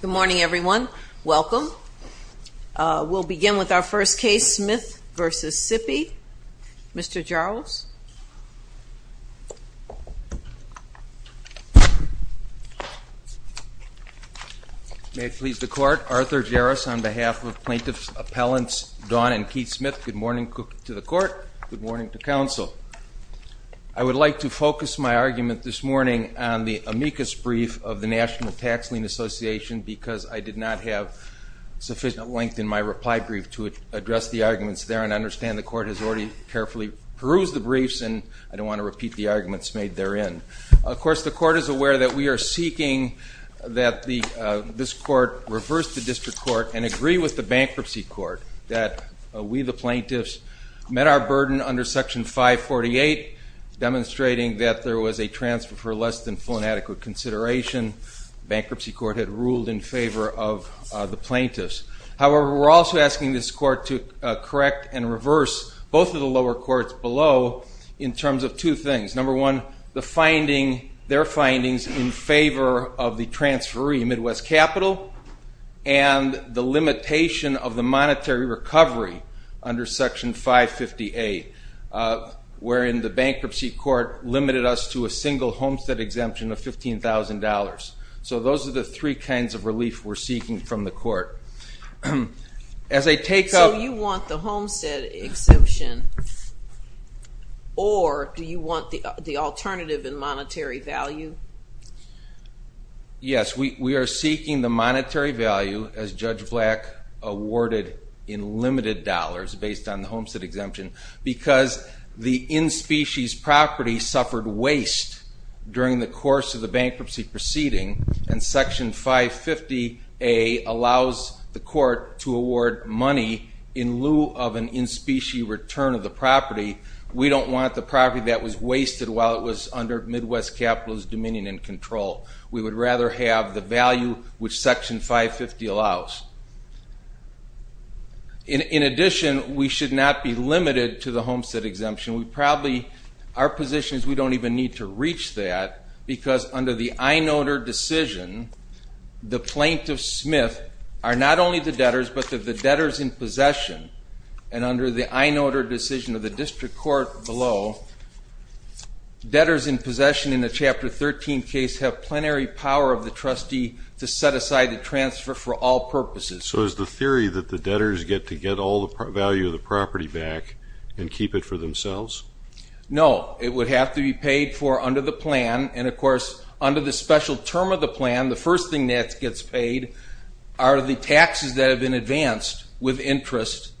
Good morning, everyone. Welcome. We'll begin with our first case, Smith v. Sipi. Mr. Jarosz. May it please the court, Arthur Jarosz on behalf of plaintiffs appellants Dawn and Keith Smith, good morning to the court, good morning to counsel. I would like to focus my argument this morning on the amicus brief of the National Tax Lien Association because I did not have sufficient length in my reply brief to address the arguments there and understand the court has already carefully perused the briefs and I don't want to repeat the arguments made therein. Of course the court is aware that we are seeking that this court reverse the district court and agree with the bankruptcy court that we the plaintiffs met our burden under section 548 demonstrating that there was a transfer for less than full and bankruptcy court had ruled in favor of the plaintiffs. However, we're also asking this court to correct and reverse both of the lower courts below in terms of two things. Number one, their findings in favor of the transferee Midwest Capital and the limitation of the monetary recovery under section 558 wherein the bankruptcy court limited us to a single homestead exemption of $15,000. So those are the three kinds of relief we're seeking from the court. So you want the homestead exemption or do you want the alternative in monetary value? Yes, we are seeking the monetary value as Judge Black awarded in limited dollars based on the homestead exemption because the course of the bankruptcy proceeding and section 550A allows the court to award money in lieu of an in specie return of the property, we don't want the property that was wasted while it was under Midwest Capital's dominion and control. We would rather have the value which section 550 allows. In addition, we should not be limited to the homestead exemption. We probably, our position is we don't even need to reach that because under the I-notor decision, the plaintiff Smith are not only the debtors but the debtors in possession and under the I-notor decision of the district court below, debtors in possession in the chapter 13 case have plenary power of the trustee to set aside the transfer for all purposes. So is the theory that the debtors get to get all the value of themselves? No, it would have to be paid for under the plan and of course under the special term of the plan, the first thing that gets paid are the taxes that have been advanced with interest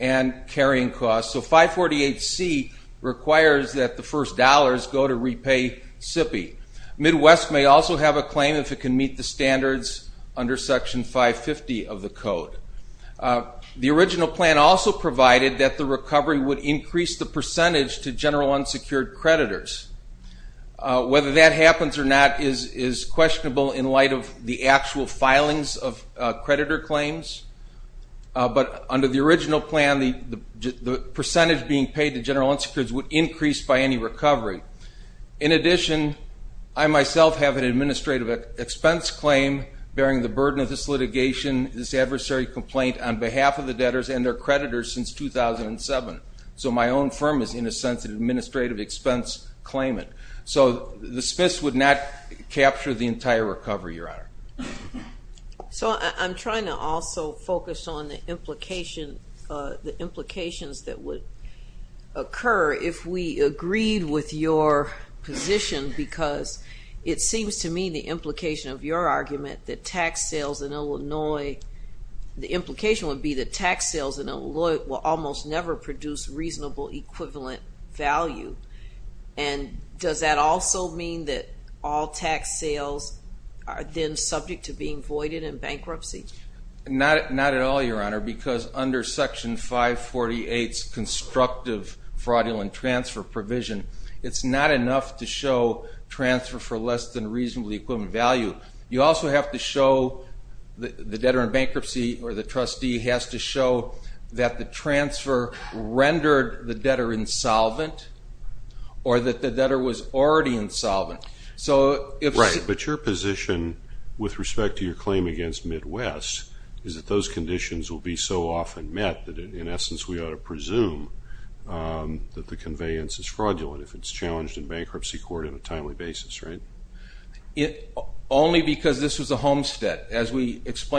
and carrying costs. So 548C requires that the first dollars go to repay SIPI. Midwest may also have a claim if it can meet the standards under section 550 of the code. The original plan also provided that the recovery would increase the percentage to general unsecured creditors. Whether that happens or not is questionable in light of the actual filings of creditor claims, but under the original plan, the percentage being paid to general unsecured would increase by any recovery. In addition, I myself have an administrative expense claim bearing the burden of this litigation, this 2007. So my own firm is in a sense an administrative expense claimant. So the SPIS would not capture the entire recovery, Your Honor. So I'm trying to also focus on the implication, the implications that would occur if we agreed with your position because it seems to me the implication of your argument that tax sales in Illinois, the implication would be the tax sales in never produce reasonable equivalent value. And does that also mean that all tax sales are then subject to being voided in bankruptcy? Not at all, Your Honor, because under section 548's constructive fraudulent transfer provision, it's not enough to show transfer for less than reasonably equivalent value. You also have to show the debtor in bankruptcy or the trustee has to show that the transfer rendered the debtor insolvent or that the debtor was already insolvent. Right, but your position with respect to your claim against Midwest is that those conditions will be so often met that in essence we ought to presume that the conveyance is fraudulent if it's challenged in bankruptcy court in a timely basis, right? Only because this was a homestead. As we Because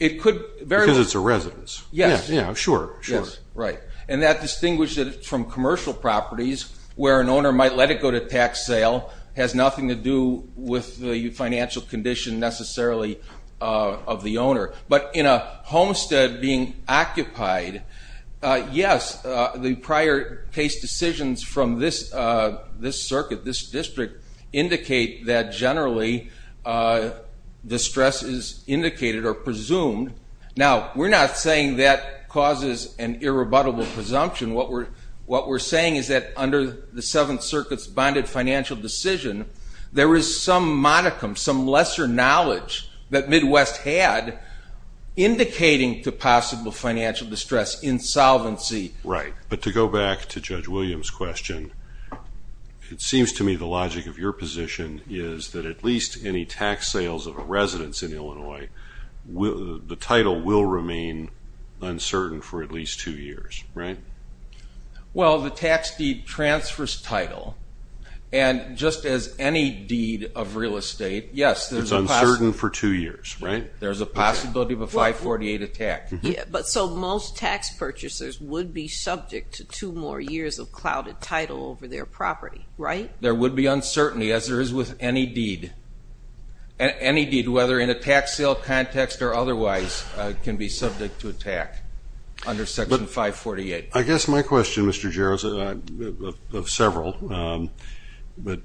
it's a residence. Yes, yeah, sure, sure. Right, and that distinguishes it from commercial properties where an owner might let it go to tax sale has nothing to do with the financial condition necessarily of the owner. But in a homestead being occupied, yes, the prior case decisions from this district indicate that generally distress is indicated or presumed. Now, we're not saying that causes an irrebuttable presumption. What we're saying is that under the Seventh Circuit's bonded financial decision, there is some modicum, some lesser knowledge that Midwest had indicating to possible financial distress, insolvency. Right, but to go back to Judge Williams question, it seems to me the logic of your position is that at least any tax sales of a residence in Illinois, the title will remain uncertain for at least two years, right? Well, the tax deed transfers title and just as any deed of real estate, yes, there's a possibility. It's uncertain for two years, right? There's a possibility of a 548 attack. Yeah, but so most tax purchasers would be subject to more years of clouded title over their property, right? There would be uncertainty as there is with any deed. Any deed, whether in a tax sale context or otherwise, can be subject to attack under Section 548. I guess my question, Mr. Jarrell, of several, but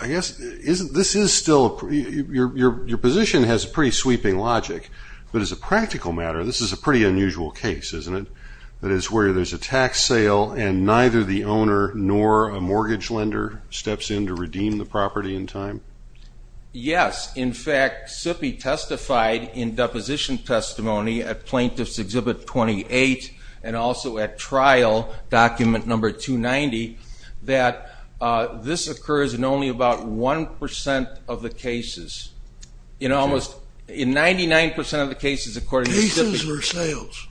I guess this is still, your position has a pretty sweeping logic, but as a practical matter, this is a pretty unusual case, isn't it? That is, where there's a tax sale and neither the owner nor a mortgage lender steps in to redeem the property in time? Yes, in fact, SIPI testified in deposition testimony at Plaintiff's Exhibit 28 and also at trial document number 290 that this occurs in only about 1% of the cases. In almost, in 99% of the cases, according to SIPI. Cases or sales?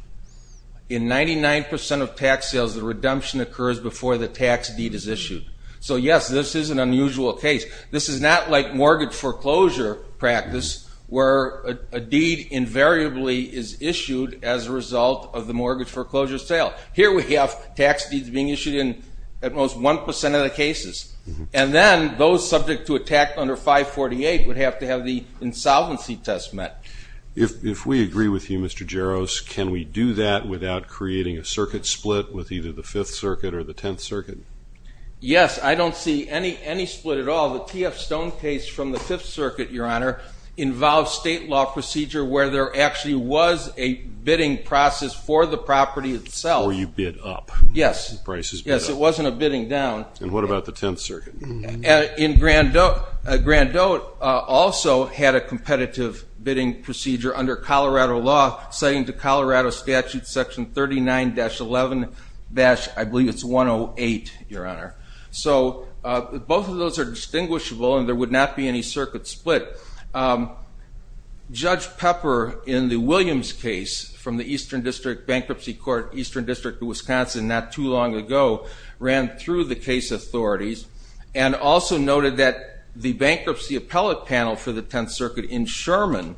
In 99% of tax sales, the redemption occurs before the tax deed is issued. So yes, this is an unusual case. This is not like mortgage foreclosure practice, where a deed invariably is issued as a result of the mortgage foreclosure sale. Here we have tax deeds being issued in at most 1% of the cases, and then those subject to attack under 548 would have to have the insolvency test met. If we agree with you, Mr. Jaros, can we do that without creating a circuit split with either the Fifth Circuit or the Tenth Circuit? Yes, I don't see any split at all. The TF Stone case from the Fifth Circuit, your honor, involves state law procedure where there actually was a bidding process for the property itself. Where you bid up. Yes. Yes, it wasn't a bidding down. And what about the Tenth Circuit? In Grandote also had a competitive bidding procedure under Colorado law, citing to Colorado Statute section 39-11- I believe it's 108, your honor. So both of those are distinguishable and there would not be any circuit split. Judge Pepper, in the Williams case from the Eastern District Bankruptcy Court, Eastern District of Wisconsin, not too long ago, ran through the case authorities and also noted that the bankruptcy appellate panel for the Tenth Circuit in Sherman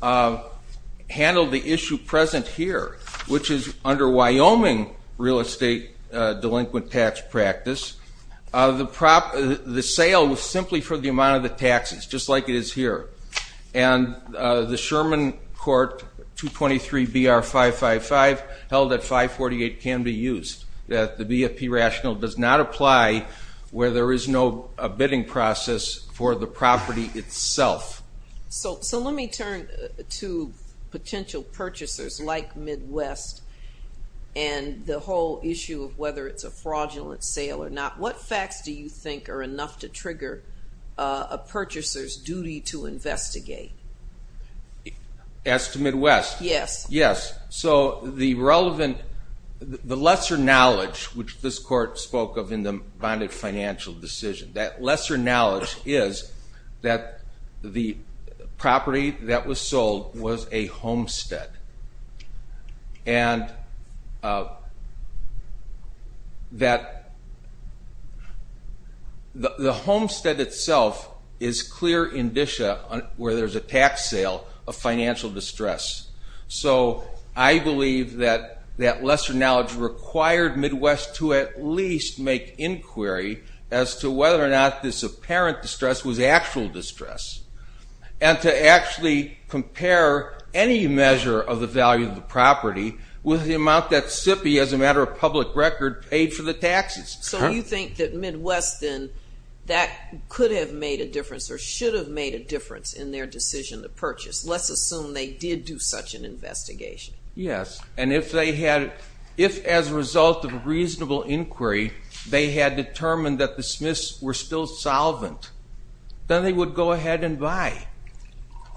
handled the issue present here, which is under Wyoming real estate delinquent tax practice. The sale was simply for the amount of the taxes, just like it is here. And the Sherman court 223 BR 555 held at 548 can be used. That the BFP rational does not apply where there is no a bidding process for the property itself. So let me turn to potential purchasers like Midwest and the whole issue of whether it's a fraudulent sale or not. What facts do you think are enough to trigger a purchaser's duty to investigate? As to lesser knowledge, which this court spoke of in the bonded financial decision, that lesser knowledge is that the property that was sold was a homestead. And that the homestead itself is clear indicia where there's a tax sale of financial distress. So I believe that that lesser knowledge required Midwest to at least make inquiry as to whether or not this apparent distress was actual distress. And to actually compare any measure of the value of the property with the amount that SIPI, as a matter of public record, paid for the taxes. So you think that Midwest then, that could have made a difference or should have made a decision to purchase. Let's assume they did do such an investigation. Yes, and if they had, if as a result of a reasonable inquiry they had determined that the Smiths were still solvent, then they would go ahead and buy.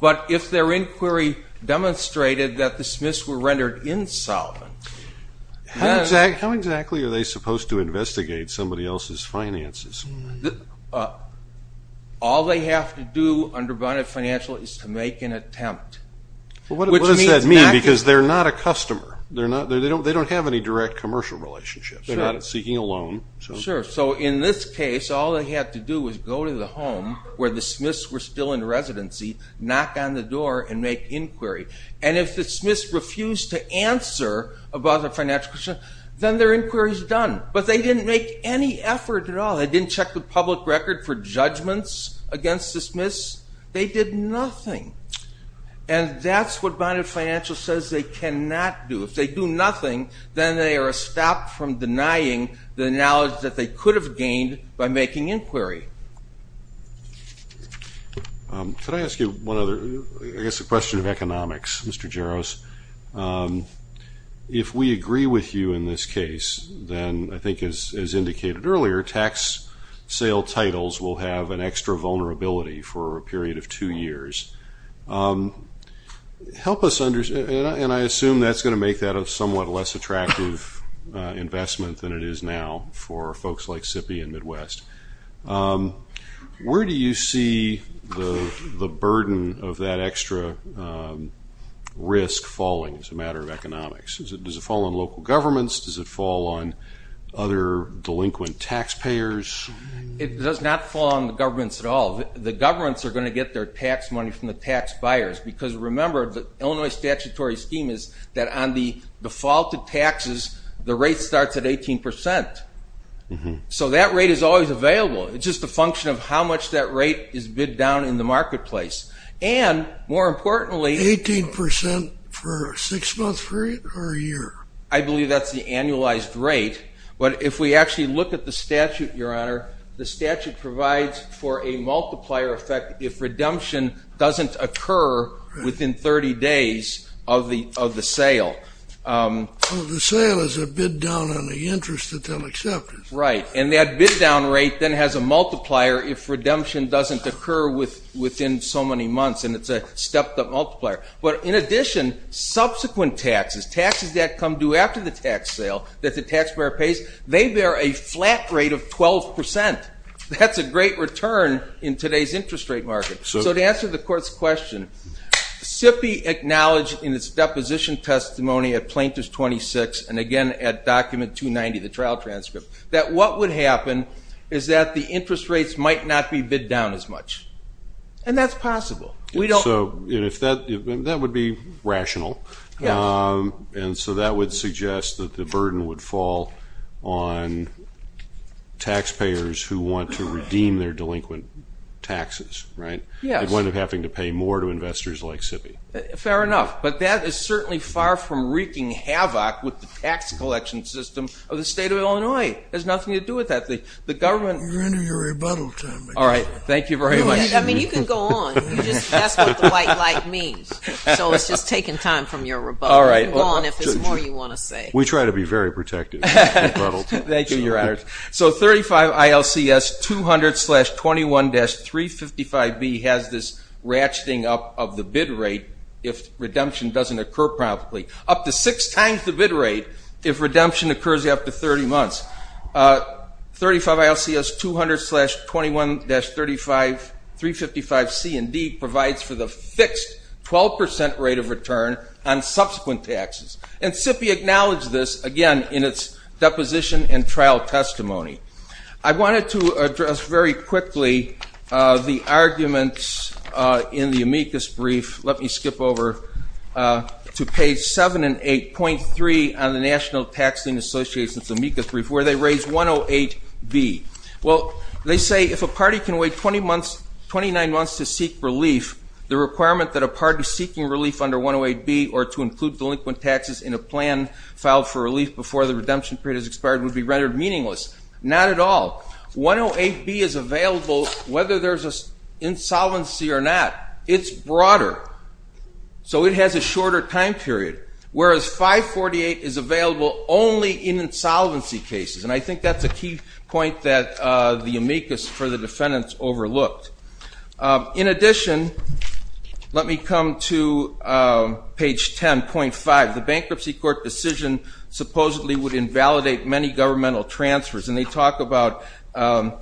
But if their inquiry demonstrated that the Smiths were rendered insolvent. How exactly are they supposed to investigate somebody else's finances? All they have to do under bonded financial is to make an attempt. What does that mean? Because they're not a customer. They don't have any direct commercial relationships. They're not seeking a loan. Sure, so in this case all they had to do was go to the home where the Smiths were still in residency, knock on the door and make inquiry. And if the Smiths refused to answer about a financial question, then their inquiry is done. But they didn't make any effort at all. They didn't check the public record for judgments against the Smiths. They did nothing. And that's what bonded financial says they cannot do. If they do nothing, then they are stopped from denying the knowledge that they could have gained by making inquiry. Can I ask you one other, I guess a question of economics, Mr. Jaros. If we sell titles, we'll have an extra vulnerability for a period of two years. Help us understand, and I assume that's going to make that a somewhat less attractive investment than it is now for folks like SIPI and Midwest. Where do you see the burden of that extra risk falling as a matter of economics? Does it It does not fall on the governments at all. The governments are going to get their tax money from the tax buyers. Because remember, the Illinois statutory scheme is that on the defaulted taxes, the rate starts at 18%. So that rate is always available. It's just a function of how much that rate is bid down in the marketplace. And more importantly, 18% for a six-month period or a year? I believe that's the annualized rate. But if we actually look at the statute, your honor, the statute provides for a multiplier effect if redemption doesn't occur within 30 days of the sale. The sale is a bid down on the interest that they'll accept. Right. And that bid down rate then has a multiplier if redemption doesn't occur within so many months. And it's a stepped-up multiplier. But in addition, subsequent taxes, taxes that come due after the tax sale that the That's a great return in today's interest rate market. So to answer the court's question, SIPPY acknowledged in its deposition testimony at Plaintiff's 26 and again at document 290, the trial transcript, that what would happen is that the interest rates might not be bid down as much. And that's possible. We don't. So if that, that would be rational. And so that would suggest that the who want to redeem their delinquent taxes, right, would end up having to pay more to investors like SIPPY. Fair enough. But that is certainly far from wreaking havoc with the tax collection system of the state of Illinois. It has nothing to do with that. The government... You're under your rebuttal time. All right. Thank you very much. I mean, you can go on. That's what the white light means. So it's just taking time from your rebuttal. All right. Go on if there's more you want to say. We try to be very protective of rebuttal time. Thank you, Your Honors. So 35 ILCS 200-21-355B has this ratcheting up of the bid rate if redemption doesn't occur promptly. Up to six times the bid rate if redemption occurs after 30 months. 35 ILCS 200-21-35, 355C and D provides for the fixed 12% rate of return on subsequent taxes. And SIPPY acknowledged this again in its deposition and trial testimony. I wanted to address very quickly the arguments in the amicus brief. Let me skip over to page 7 and 8.3 on the National Taxing Association's amicus brief where they raise 108B. Well, they say if a party can wait 20 months, 29 months to seek relief, the requirement that a party seeking relief under 108B or to include delinquent taxes in a plan filed for is expired would be rendered meaningless. Not at all. 108B is available whether there's an insolvency or not. It's broader, so it has a shorter time period, whereas 548 is available only in insolvency cases. And I think that's a key point that the amicus for the defendants overlooked. In addition, let me come to page 10.5. The bankruptcy court decision supposedly would validate many governmental transfers, and they talk about, at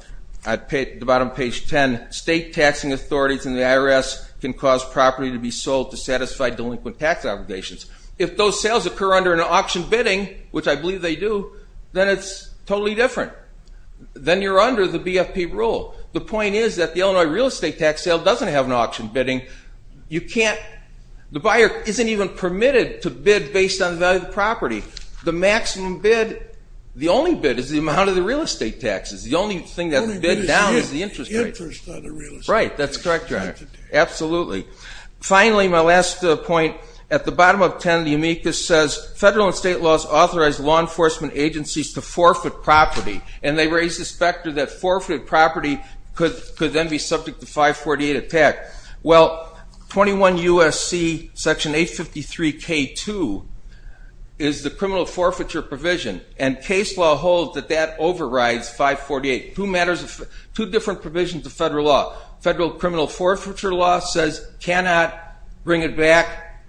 the bottom of page 10, state taxing authorities and the IRS can cause property to be sold to satisfy delinquent tax obligations. If those sales occur under an auction bidding, which I believe they do, then it's totally different. Then you're under the BFP rule. The point is that the Illinois real estate tax sale doesn't have an auction bidding. You can't, the buyer isn't even permitted to bid based on the value of the property. The maximum bid, the only bid, is the amount of the real estate taxes. The only thing that's bid down is the interest rate. Right, that's correct, Your Honor. Absolutely. Finally, my last point, at the bottom of 10, the amicus says federal and state laws authorize law enforcement agencies to forfeit property, and they raise the specter that forfeited property could then be subject to 548 attack. Well, 21 U.S.C. section 853 K2 is the criminal forfeiture provision, and case law holds that that overrides 548. Two different provisions of federal law. Federal criminal forfeiture law says cannot bring it back.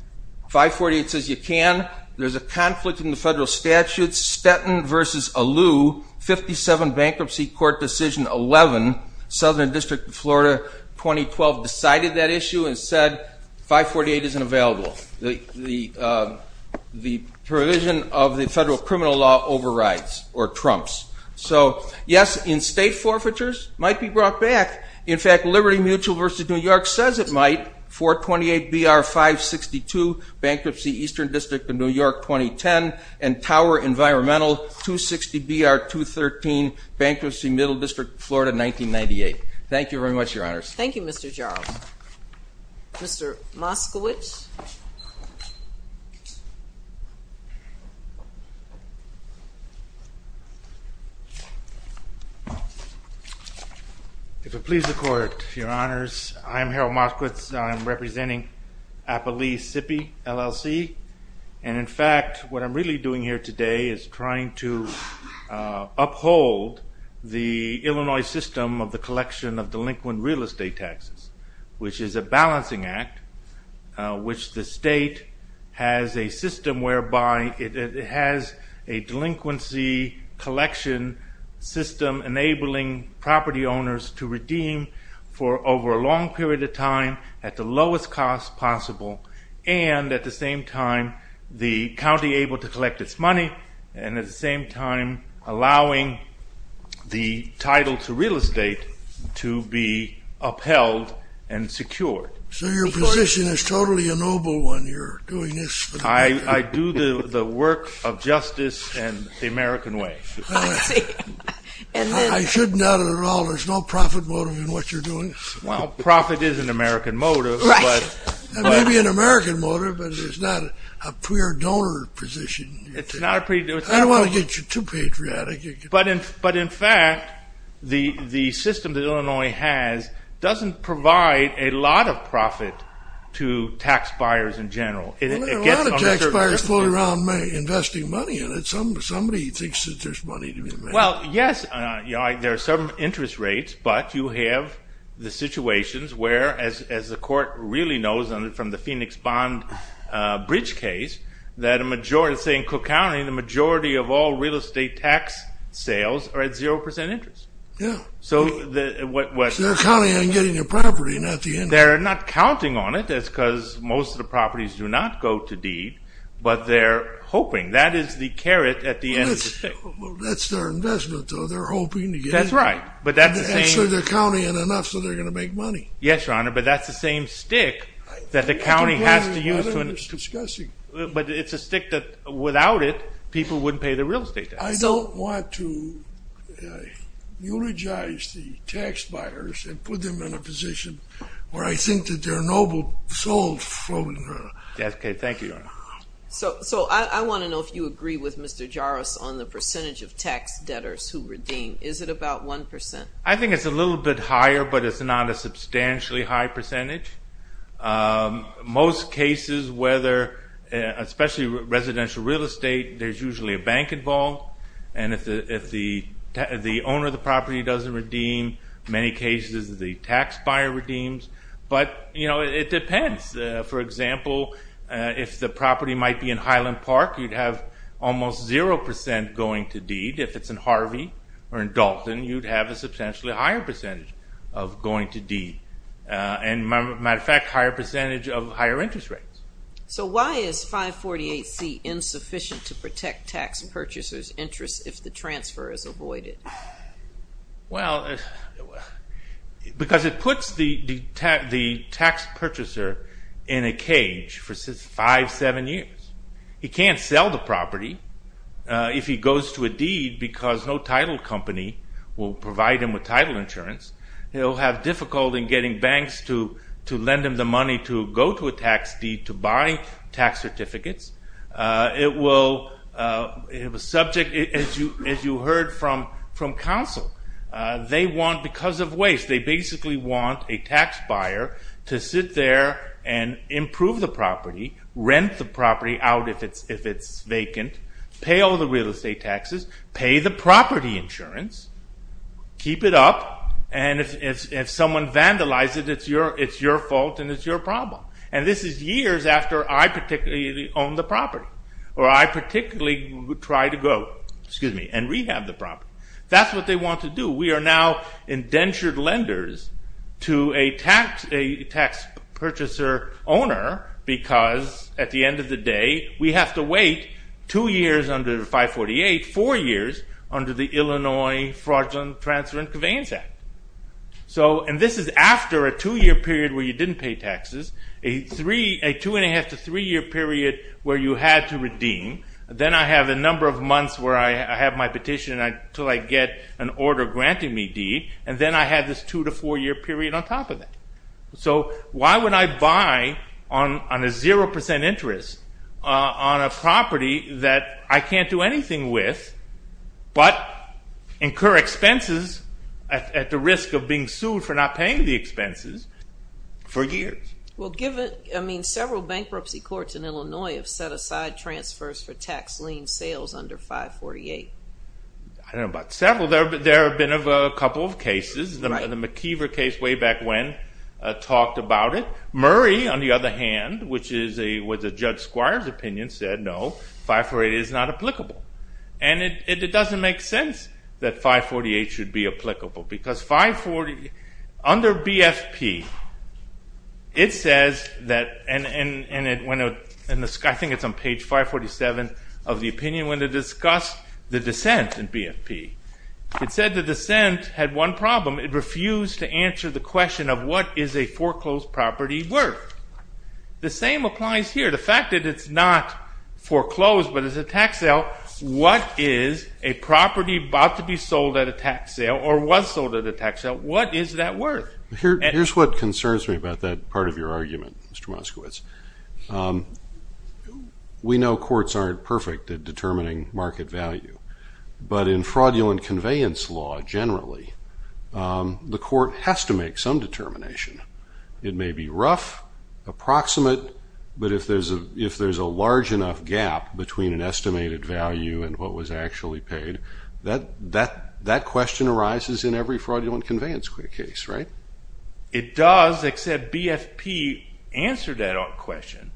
548 says you can. There's a conflict in the federal statute, Stetton v. Alou, 57 Bankruptcy Court Decision 11, Southern District of Florida, 2012, decided that issue and said 548 isn't available. The provision of the federal criminal law overrides or trumps. So yes, in-state forfeitures might be brought back. In fact, Liberty Mutual v. New York says it might. 428 BR 562, Bankruptcy Eastern District of New York, 2010, and Tower Environmental 260 BR 213, Bankruptcy Middle District, Florida, 1998. Thank you very much, Your Honors. Thank you, Mr. Charles. Mr. Moskowitz. If it pleases the Court, Your Honors, I am Harold Moskowitz. I'm representing Appalachee SIPI, LLC. And in fact, what I'm really doing here today is trying to uphold the Illinois system of the collection of delinquent real estate taxes, which is a balancing act, which the state has a system whereby it has a delinquency collection system enabling property owners to redeem for over a long period of time at the lowest cost possible and at the same time the county able to collect its money and at the same time allowing the title to real estate to be upheld and secured. So your position is totally a noble one, you're doing this. I do the work of justice and the American way. I shouldn't doubt it at all. There's no profit motive in what you're doing. Well, profit is an American motive. Maybe an American motive, but it's not a pure donor position. I don't want to get you too patriotic. But in fact, the system that Illinois has doesn't provide a lot of profit to tax buyers in general. A lot of tax buyers pull around investing money in it. Somebody thinks that there's money to be made. Well, yes, there are some interest rates, but you have the situations where, as the court really knows from the Phoenix Bond Bridge case, that a majority, say in Cook County, the majority of all real estate tax sales are at 0% interest. Yeah. So they're counting on getting a property, not the interest. They're not counting on it. That's because most of the properties do not go to deed, but they're hoping. That is the That's right, but that's the same. Actually, they're counting on enough so they're going to make money. Yes, Your Honor, but that's the same stick that the county has to use. But it's a stick that, without it, people wouldn't pay the real estate tax. I don't want to eulogize the tax buyers and put them in a position where I think that they're noble souls floating around. Okay, thank you, Your Honor. So I want to know if you agree with Is it about 1%? I think it's a little bit higher, but it's not a substantially high percentage. Most cases, whether, especially residential real estate, there's usually a bank involved, and if the owner of the property doesn't redeem, many cases the tax buyer redeems. But, you know, it depends. For example, if the property might be in Highland Park, you'd have almost 0% going to deed. If it's in Harvey or in Dalton, you'd have a substantially higher percentage of going to deed. And, matter of fact, higher percentage of higher interest rates. So why is 548C insufficient to protect tax purchasers' interest if the transfer is avoided? Well, because it puts the tax purchaser in a cage for five, seven years. He can't sell the property if he goes to a deed because no title company will provide him with title insurance. He'll have difficulty in getting banks to lend him the money to go to a tax deed to buy tax certificates. It will have a subject, as you heard from counsel, they want, because of waste, they basically want a tax buyer to sit there and improve the property, rent the property out if it's vacant, pay all the real estate taxes, pay the property insurance, keep it up, and if someone vandalizes it, it's your fault and it's your problem. And this is years after I particularly own the property, or I particularly try to go, excuse me, and rehab the property. That's what they want to do. We are now indentured lenders to a tax purchaser owner because at the end of the day, we have to wait two years under 548, four years under the Illinois Fraudulent Transfer and Conveyance Act. So, and this is after a two-year period where you didn't pay taxes, a two and a half to three-year period where you had to redeem, then I have a number of months where I have my petition until I get an order granting me deed, and then I had this two to four-year period on top of that. So, why would I buy on a 0% interest on a property that I can't do anything with, but incur expenses at the risk of being sued for not paying the expenses for years? Well, given, I mean, several bankruptcy courts in Illinois have set aside transfers for tax lien sales under 548. I don't know about several, there have been a couple of cases. The McKeever case way back when talked about it. Murray, on the other hand, which was a Judge Squire's opinion, said no, 548 is not applicable. And it doesn't make sense that 548 should be applicable because 540, under BFP, it says that, and I think it's on page 547 of the opinion when it discussed the dissent in BFP. It said the question of what is a foreclosed property worth? The same applies here. The fact that it's not foreclosed, but it's a tax sale, what is a property about to be sold at a tax sale, or was sold at a tax sale, what is that worth? Here's what concerns me about that part of your argument, Mr. Moskowitz. We know courts aren't perfect at determining market value, but in fraudulent determination. It may be rough, approximate, but if there's a large enough gap between an estimated value and what was actually paid, that question arises in every fraudulent conveyance case, right? It does, except BFP answered that question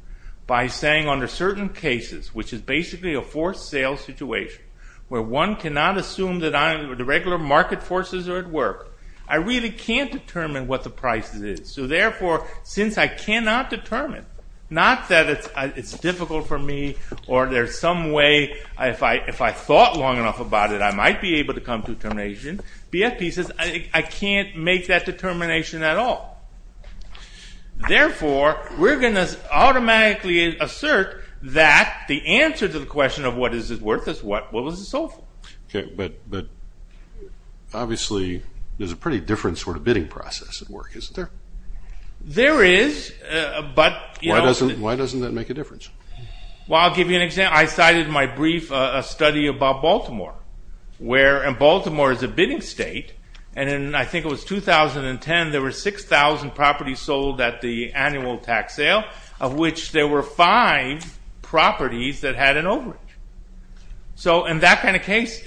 by saying under certain cases, which is basically a forced sales situation, where one cannot assume that the regular market forces are at work. I really can't determine what the price is, so therefore, since I cannot determine, not that it's difficult for me, or there's some way, if I thought long enough about it, I might be able to come to a determination. BFP says I can't make that determination at all. Therefore, we're going to automatically assert that the answer to the question of what is it worth, is what was it sold for? Okay, but obviously, there's a pretty different sort of bidding process at work, isn't there? There is, but... Why doesn't that make a difference? Well, I'll give you an example. I cited in my brief a study about Baltimore, where Baltimore is a bidding state, and I think it was 2010, there were 6,000 properties sold at the annual tax sale, of which there were five properties that had an overage. So in that kind of case,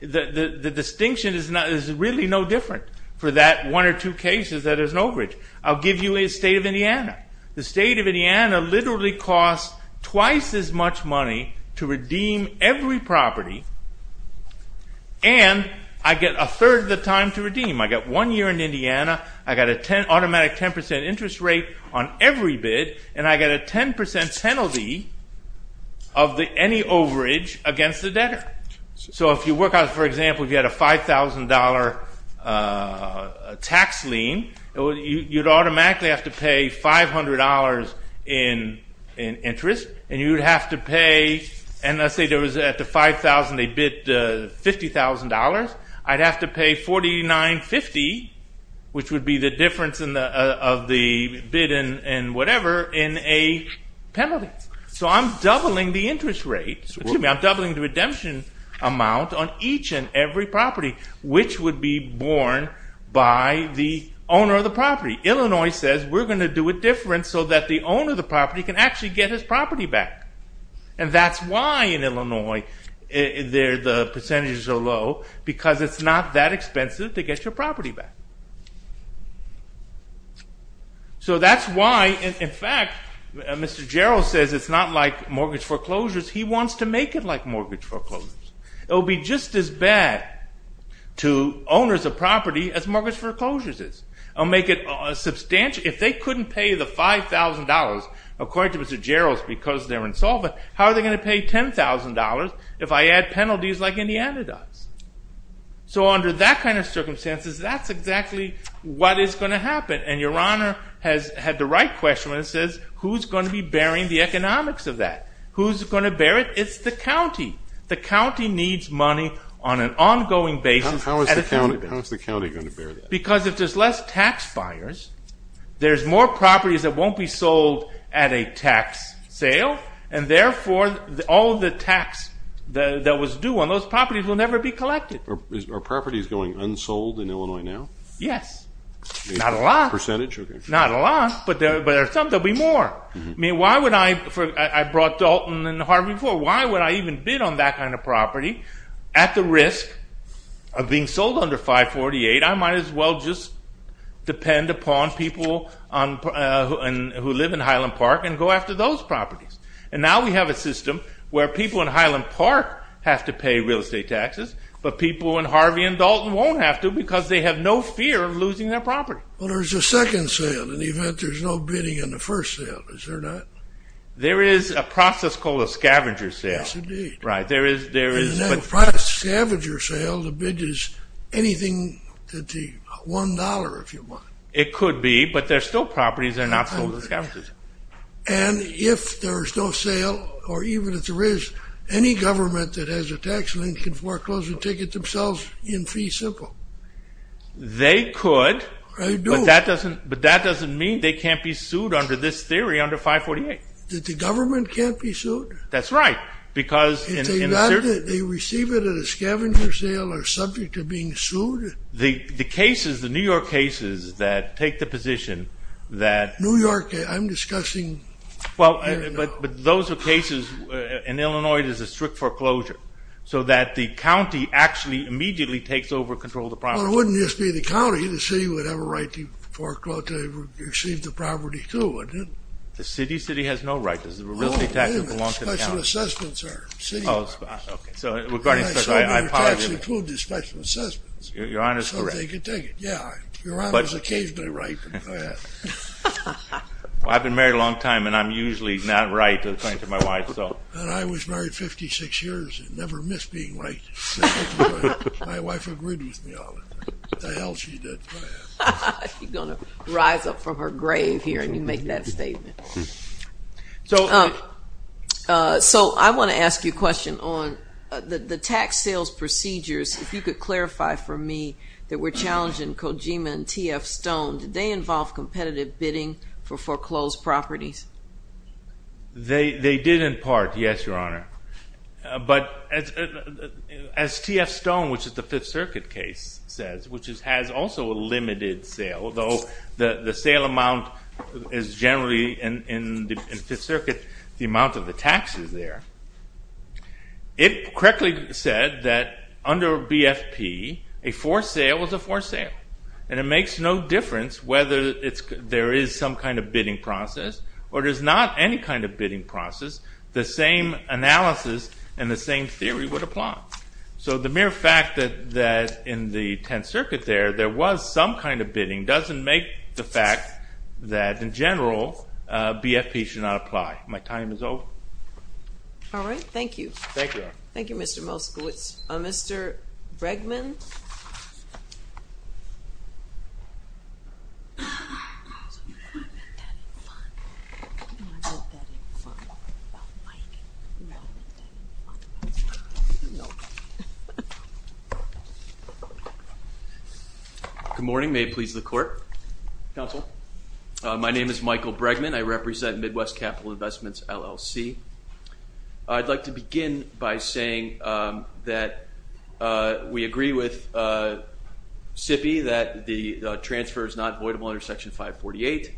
the distinction is really no different for that one or two cases that there's an overage. I'll give you a state of Indiana. The state of Indiana literally costs twice as much money to redeem every property, and I get a third of the time to redeem. I got one year in Indiana, I got an automatic 10% interest rate on every bid, and I got a 10% penalty of any overage against the debtor. So if you work out, for example, if you had a $5,000 tax lien, you'd automatically have to pay $500 in interest, and you'd have to pay, and let's say there was at the $5,000, they bid $50,000, I'd have to pay $49.50, which would be the difference of the bid and whatever in a penalty. So I'm doubling the interest rate, excuse me, I'm doubling the redemption amount on each and every property, which would be borne by the owner of the property. Illinois says, we're going to do it different so that the owner of the property can actually get his property back, and that's why in Illinois the percentages are low, because it's not that expensive to get your property back. So that's why, in fact, Mr. Jarrell says it's not like mortgage foreclosures, he wants to make it like mortgage foreclosures. It will be just as bad to owners of property as mortgage foreclosures is. If they couldn't pay the $5,000, according to Mr. Jarrell, because they're insolvent, how are they going to pay $10,000 if I add penalties like Indiana does? So under that kind of circumstances, that's exactly what is going to happen, and Your Honor has had the right question when it says, who's going to be bearing the economics of that? Who's going to bear it? It's the county. The county needs money on an ongoing basis. How is the county going to bear that? Because if there's less tax buyers, there's more properties that won't be sold at a tax sale, and therefore all the tax that was due on those properties will never be collected. Are properties going unsold in Illinois now? Yes. Not a lot. Percentage? Not a lot, but there are some that will be more. I mean, why would I, I brought Dalton and Harvey Ford, why would I even bid on that kind of property at the risk of being sold under 548? I might as well just depend upon people who live in Highland Park and go after those properties. And now we have a system where people in Highland Park have to pay real estate taxes, but people in Harvey and Dalton won't have to because they have no fear of losing their property. Well, there's a second sale in the event there's no bidding in the first sale. Is there not? There is a process called a scavenger sale. Yes, indeed. In a scavenger sale, the bid is anything to $1, if you want. It could be, but they're still properties, they're not sold as scavengers. And if there's no sale, or even if there is, any government that has a tax link can foreclose a ticket themselves in fee simple. They could, but that doesn't mean they can't be sued under this theory, under 548. That the government can't be sued? That's right. If they receive it at a scavenger sale, they're subject to being sued? The cases, the New York cases that take the position that— New York, I'm discussing here now. Well, but those are cases, in Illinois, there's a strict foreclosure so that the county actually immediately takes over and controls the property. Well, it wouldn't just be the county. The city would have a right to receive the property too, wouldn't it? The city has no right. Because the real estate taxes belong to the county. Special assessments are city laws. Oh, okay. So, regarding special— So, their taxes include the special assessments. Your Honor's correct. So, they could take it, yeah. Your Honor's occasionally right. Well, I've been married a long time, and I'm usually not right according to my wife, so. And I was married 56 years and never missed being right. My wife agreed with me on it. The hell she did. She's going to rise up from her grave here and you make that statement. So, I want to ask you a question on the tax sales procedures, if you could clarify for me that were challenging Kojima and T.F. Stone. Did they involve competitive bidding for foreclosed properties? They did in part, yes, Your Honor. But as T.F. Stone, which is the Fifth Circuit case, says, which has also a limited sale, although the sale amount is generally in the Fifth Circuit, the amount of the tax is there. It correctly said that under BFP, a forced sale is a forced sale. And it makes no difference whether there is some kind of bidding process or there's not any kind of bidding process. The same analysis and the same theory would apply. So, the mere fact that in the Tenth Circuit there, there was some kind of bidding, doesn't make the fact that, in general, BFP should not apply. My time is over. All right, thank you. Thank you, Your Honor. Thank you, Mr. Moskowitz. Mr. Bregman? Good morning. May it please the Court? Counsel? My name is Michael Bregman. I represent Midwest Capital Investments, LLC. I'd like to begin by saying that we agree with SIPPY that the transfer is not voidable under Section 548,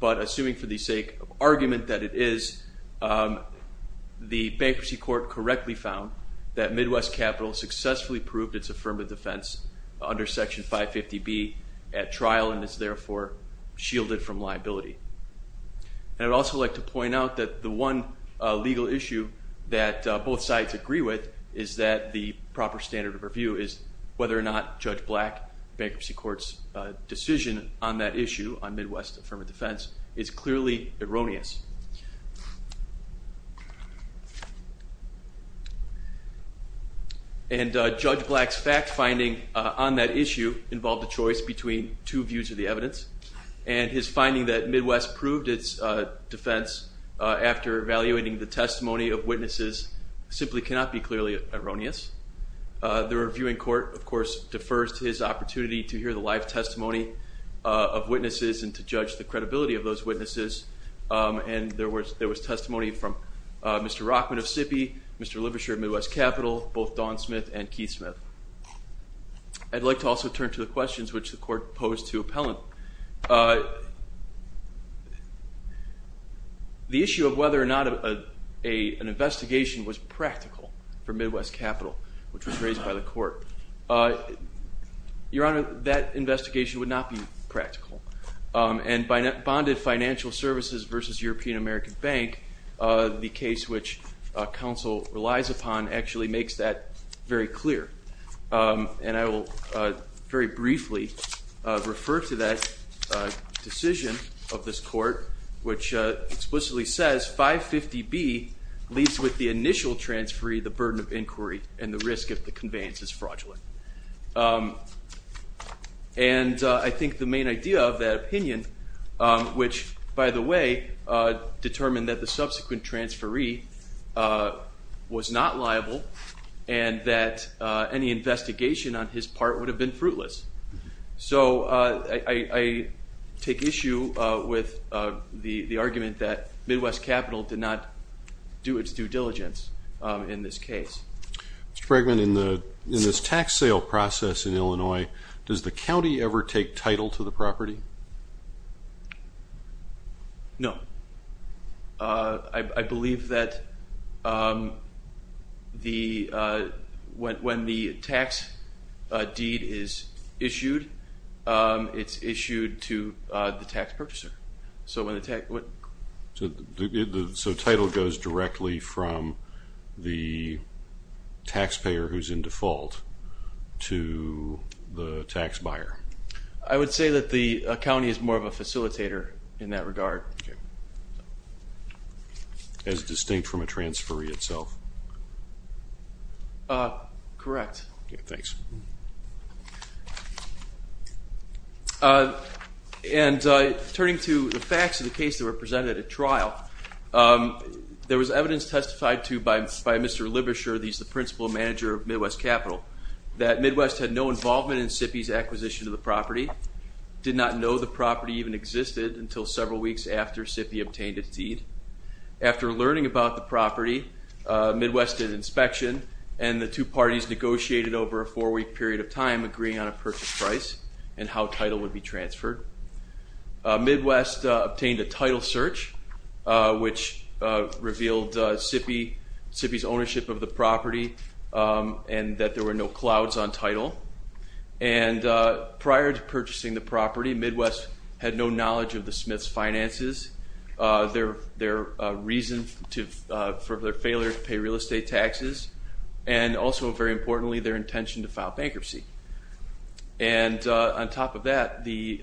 but assuming for the sake of argument that it is, the Bankruptcy Court correctly found that Midwest Capital successfully proved its affirmative defense under Section 550B at trial and is, therefore, shielded from liability. And I'd also like to point out that the one legal issue that both sides agree with is that the proper standard of review is whether or not Judge Black, Bankruptcy Court's decision on that issue, on Midwest affirmative defense, is clearly erroneous. And Judge Black's fact-finding on that issue involved a choice between two views of the evidence, and his finding that Midwest proved its defense after evaluating the testimony of witnesses simply cannot be clearly erroneous. The Reviewing Court, of course, defers to his opportunity to hear the live testimony of witnesses and to judge the credibility of those witnesses, and there was testimony from Mr. Rockman of SIPPY, Mr. Livershire of Midwest Capital, both Don Smith and Keith Smith. I'd like to also turn to the questions which the Court posed to Appellant. The issue of whether or not an investigation was practical for Midwest Capital, which was raised by the Court. Your Honor, that investigation would not be practical. And by bonded financial services versus European American Bank, the case which counsel relies upon actually makes that very clear. And I will very briefly refer to that decision of this Court, which explicitly says 550B leaves with the initial transferee the burden of inquiry and the risk of the conveyance is fraudulent. And I think the main idea of that opinion, which, by the way, determined that the subsequent transferee was not liable and that any investigation on his part would have been fruitless. So I take issue with the argument that Midwest Capital did not do its due diligence in this case. Mr. Bregman, in this tax sale process in Illinois, does the county ever take title to the property? No. I believe that when the tax deed is issued, it's issued to the tax purchaser. So title goes directly from the taxpayer who's in default to the tax buyer? I would say that the county is more of a facilitator in that regard. As distinct from a transferee itself? Correct. Thanks. And turning to the facts of the case that were presented at trial, there was evidence testified to by Mr. Libisher, the principal manager of Midwest Capital, that Midwest had no involvement in SIPPY's acquisition of the property, did not know the property even existed until several weeks after SIPPY obtained its deed. After learning about the property, Midwest did an inspection, and the two parties negotiated over a four-week period of time agreeing on a purchase price and how title would be transferred. Midwest obtained a title search, which revealed SIPPY's ownership of the property and that there were no clouds on title. And prior to purchasing the property, Midwest had no knowledge of the Smiths' finances, their reason for their failure to pay real estate taxes, and also, very importantly, their intention to file bankruptcy. And on top of that, the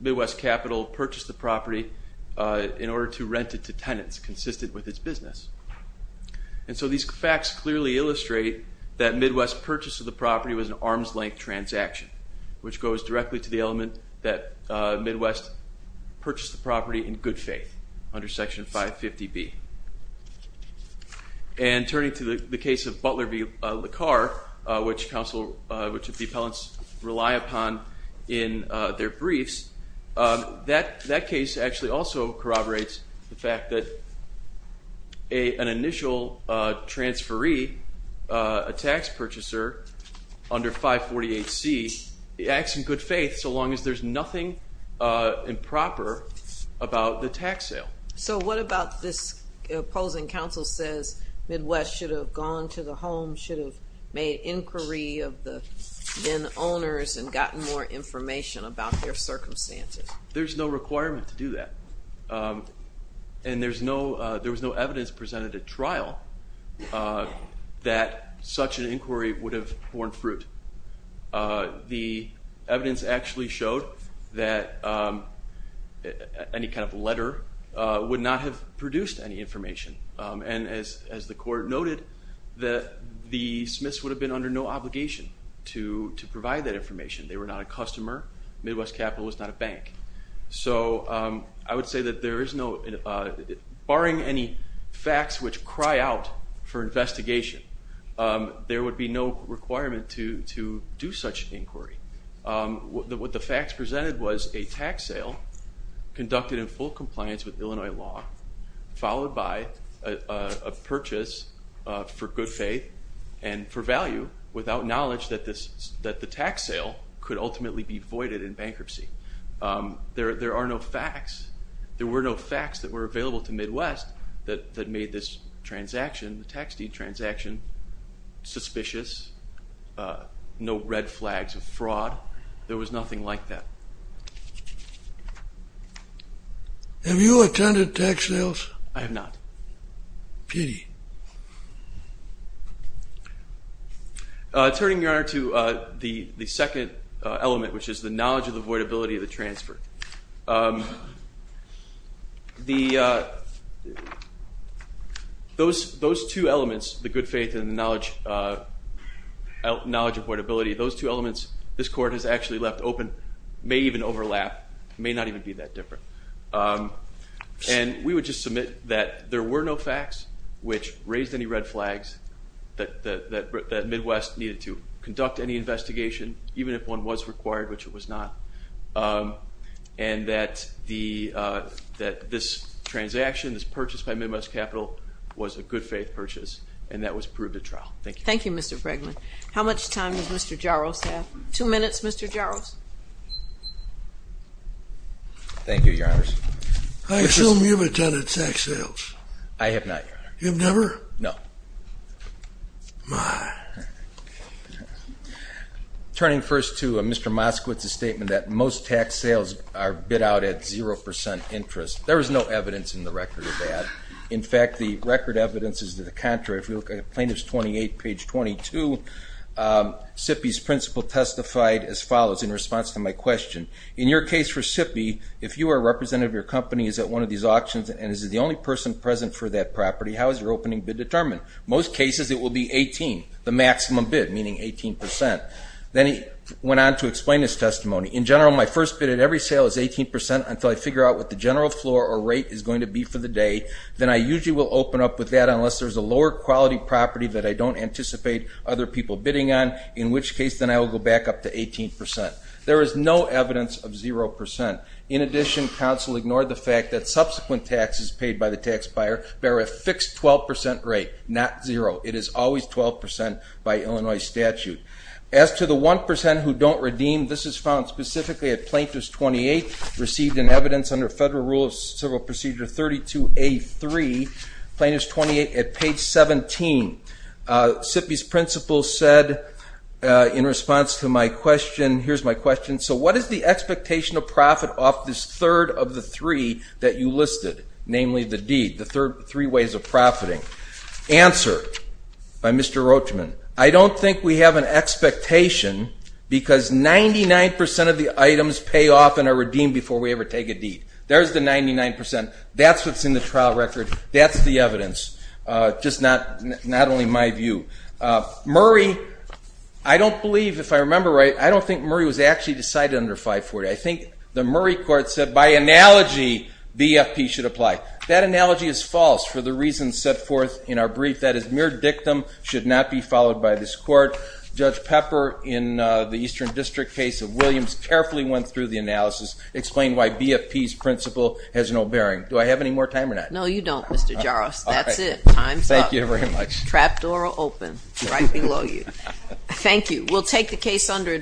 Midwest Capital purchased the property in order to rent it to tenants consistent with its business. And so these facts clearly illustrate that Midwest's purchase of the property was an arm's-length transaction, which goes directly to the element that Midwest purchased the property in good faith under Section 550B. And turning to the case of Butler v. LaCar, which the appellants rely upon in their briefs, that case actually also corroborates the fact that an initial transferee, a tax purchaser, under 548C acts in good faith so long as there's nothing improper about the tax sale. So what about this opposing counsel says Midwest should have gone to the home, should have made inquiry of the bin owners and gotten more information about their circumstances? There's no requirement to do that. And there was no evidence presented at trial that such an inquiry would have borne fruit. The evidence actually showed that any kind of letter would not have produced any information. And as the court noted, the Smiths would have been under no obligation to provide that information. They were not a customer. Midwest Capital was not a bank. So I would say that there is no, barring any facts which cry out for investigation, there would be no requirement to do such inquiry. What the facts presented was a tax sale conducted in full compliance with Illinois law, followed by a purchase for good faith and for value, without knowledge that the tax sale could ultimately be voided in bankruptcy. There are no facts, there were no facts that were available to Midwest that made this transaction, the tax deed transaction, suspicious, no red flags of fraud. There was nothing like that. Have you attended tax sales? I have not. Pity. Turning, Your Honor, to the second element, which is the knowledge of the voidability of the transfer. Those two elements, the good faith and the knowledge of voidability, those two elements this court has actually left open may even overlap, may not even be that different. And we would just submit that there were no facts which raised any red flags, that Midwest needed to conduct any investigation, even if one was required, which it was not, and that this transaction, this purchase by Midwest Capital, was a good faith purchase, Thank you, Mr. Fregman. How much time does Mr. Jaros have? Two minutes, Mr. Jaros. Thank you, Your Honors. I assume you've attended tax sales. I have not, Your Honor. You've never? No. My. Turning first to Mr. Moskowitz's statement that most tax sales are bid out at 0% interest, there is no evidence in the record of that. In fact, the record evidence is to the contrary. Plaintiff's 28, page 22, SIPPY's principle testified as follows in response to my question. In your case for SIPPY, if you or a representative of your company is at one of these auctions and is the only person present for that property, how is your opening bid determined? Most cases it will be 18, the maximum bid, meaning 18%. Then he went on to explain his testimony. In general, my first bid at every sale is 18% until I figure out what the general floor or rate is going to be for the day. Then I usually will open up with that unless there's a lower quality property that I don't anticipate other people bidding on, in which case then I will go back up to 18%. There is no evidence of 0%. In addition, counsel ignored the fact that subsequent taxes paid by the tax buyer bear a fixed 12% rate, not 0%. It is always 12% by Illinois statute. As to the 1% who don't redeem, this is found specifically at Plaintiff's 28, received in evidence under Federal Rule of Civil Procedure 32A3, Plaintiff's 28 at page 17. SIPPY's principle said in response to my question, here's my question, so what is the expectation of profit off this third of the three that you listed, namely the deed, the three ways of profiting? Answer by Mr. Roachman, I don't think we have an expectation because 99% of the items pay off and are redeemed before we ever take a deed. There's the 99%. That's what's in the trial record. That's the evidence, just not only my view. Murray, I don't believe, if I remember right, I don't think Murray was actually decided under 540. I think the Murray court said by analogy, BFP should apply. That analogy is false for the reasons set forth in our brief. That is mere dictum should not be followed by this court. Judge Pepper in the Eastern District case of Williams carefully went through the analysis, explained why BFP's principle has no bearing. Do I have any more time or not? No, you don't, Mr. Jarrus. That's it. Time's up. Thank you very much. Trap door will open right below you. Thank you. We'll take the case under adjournment.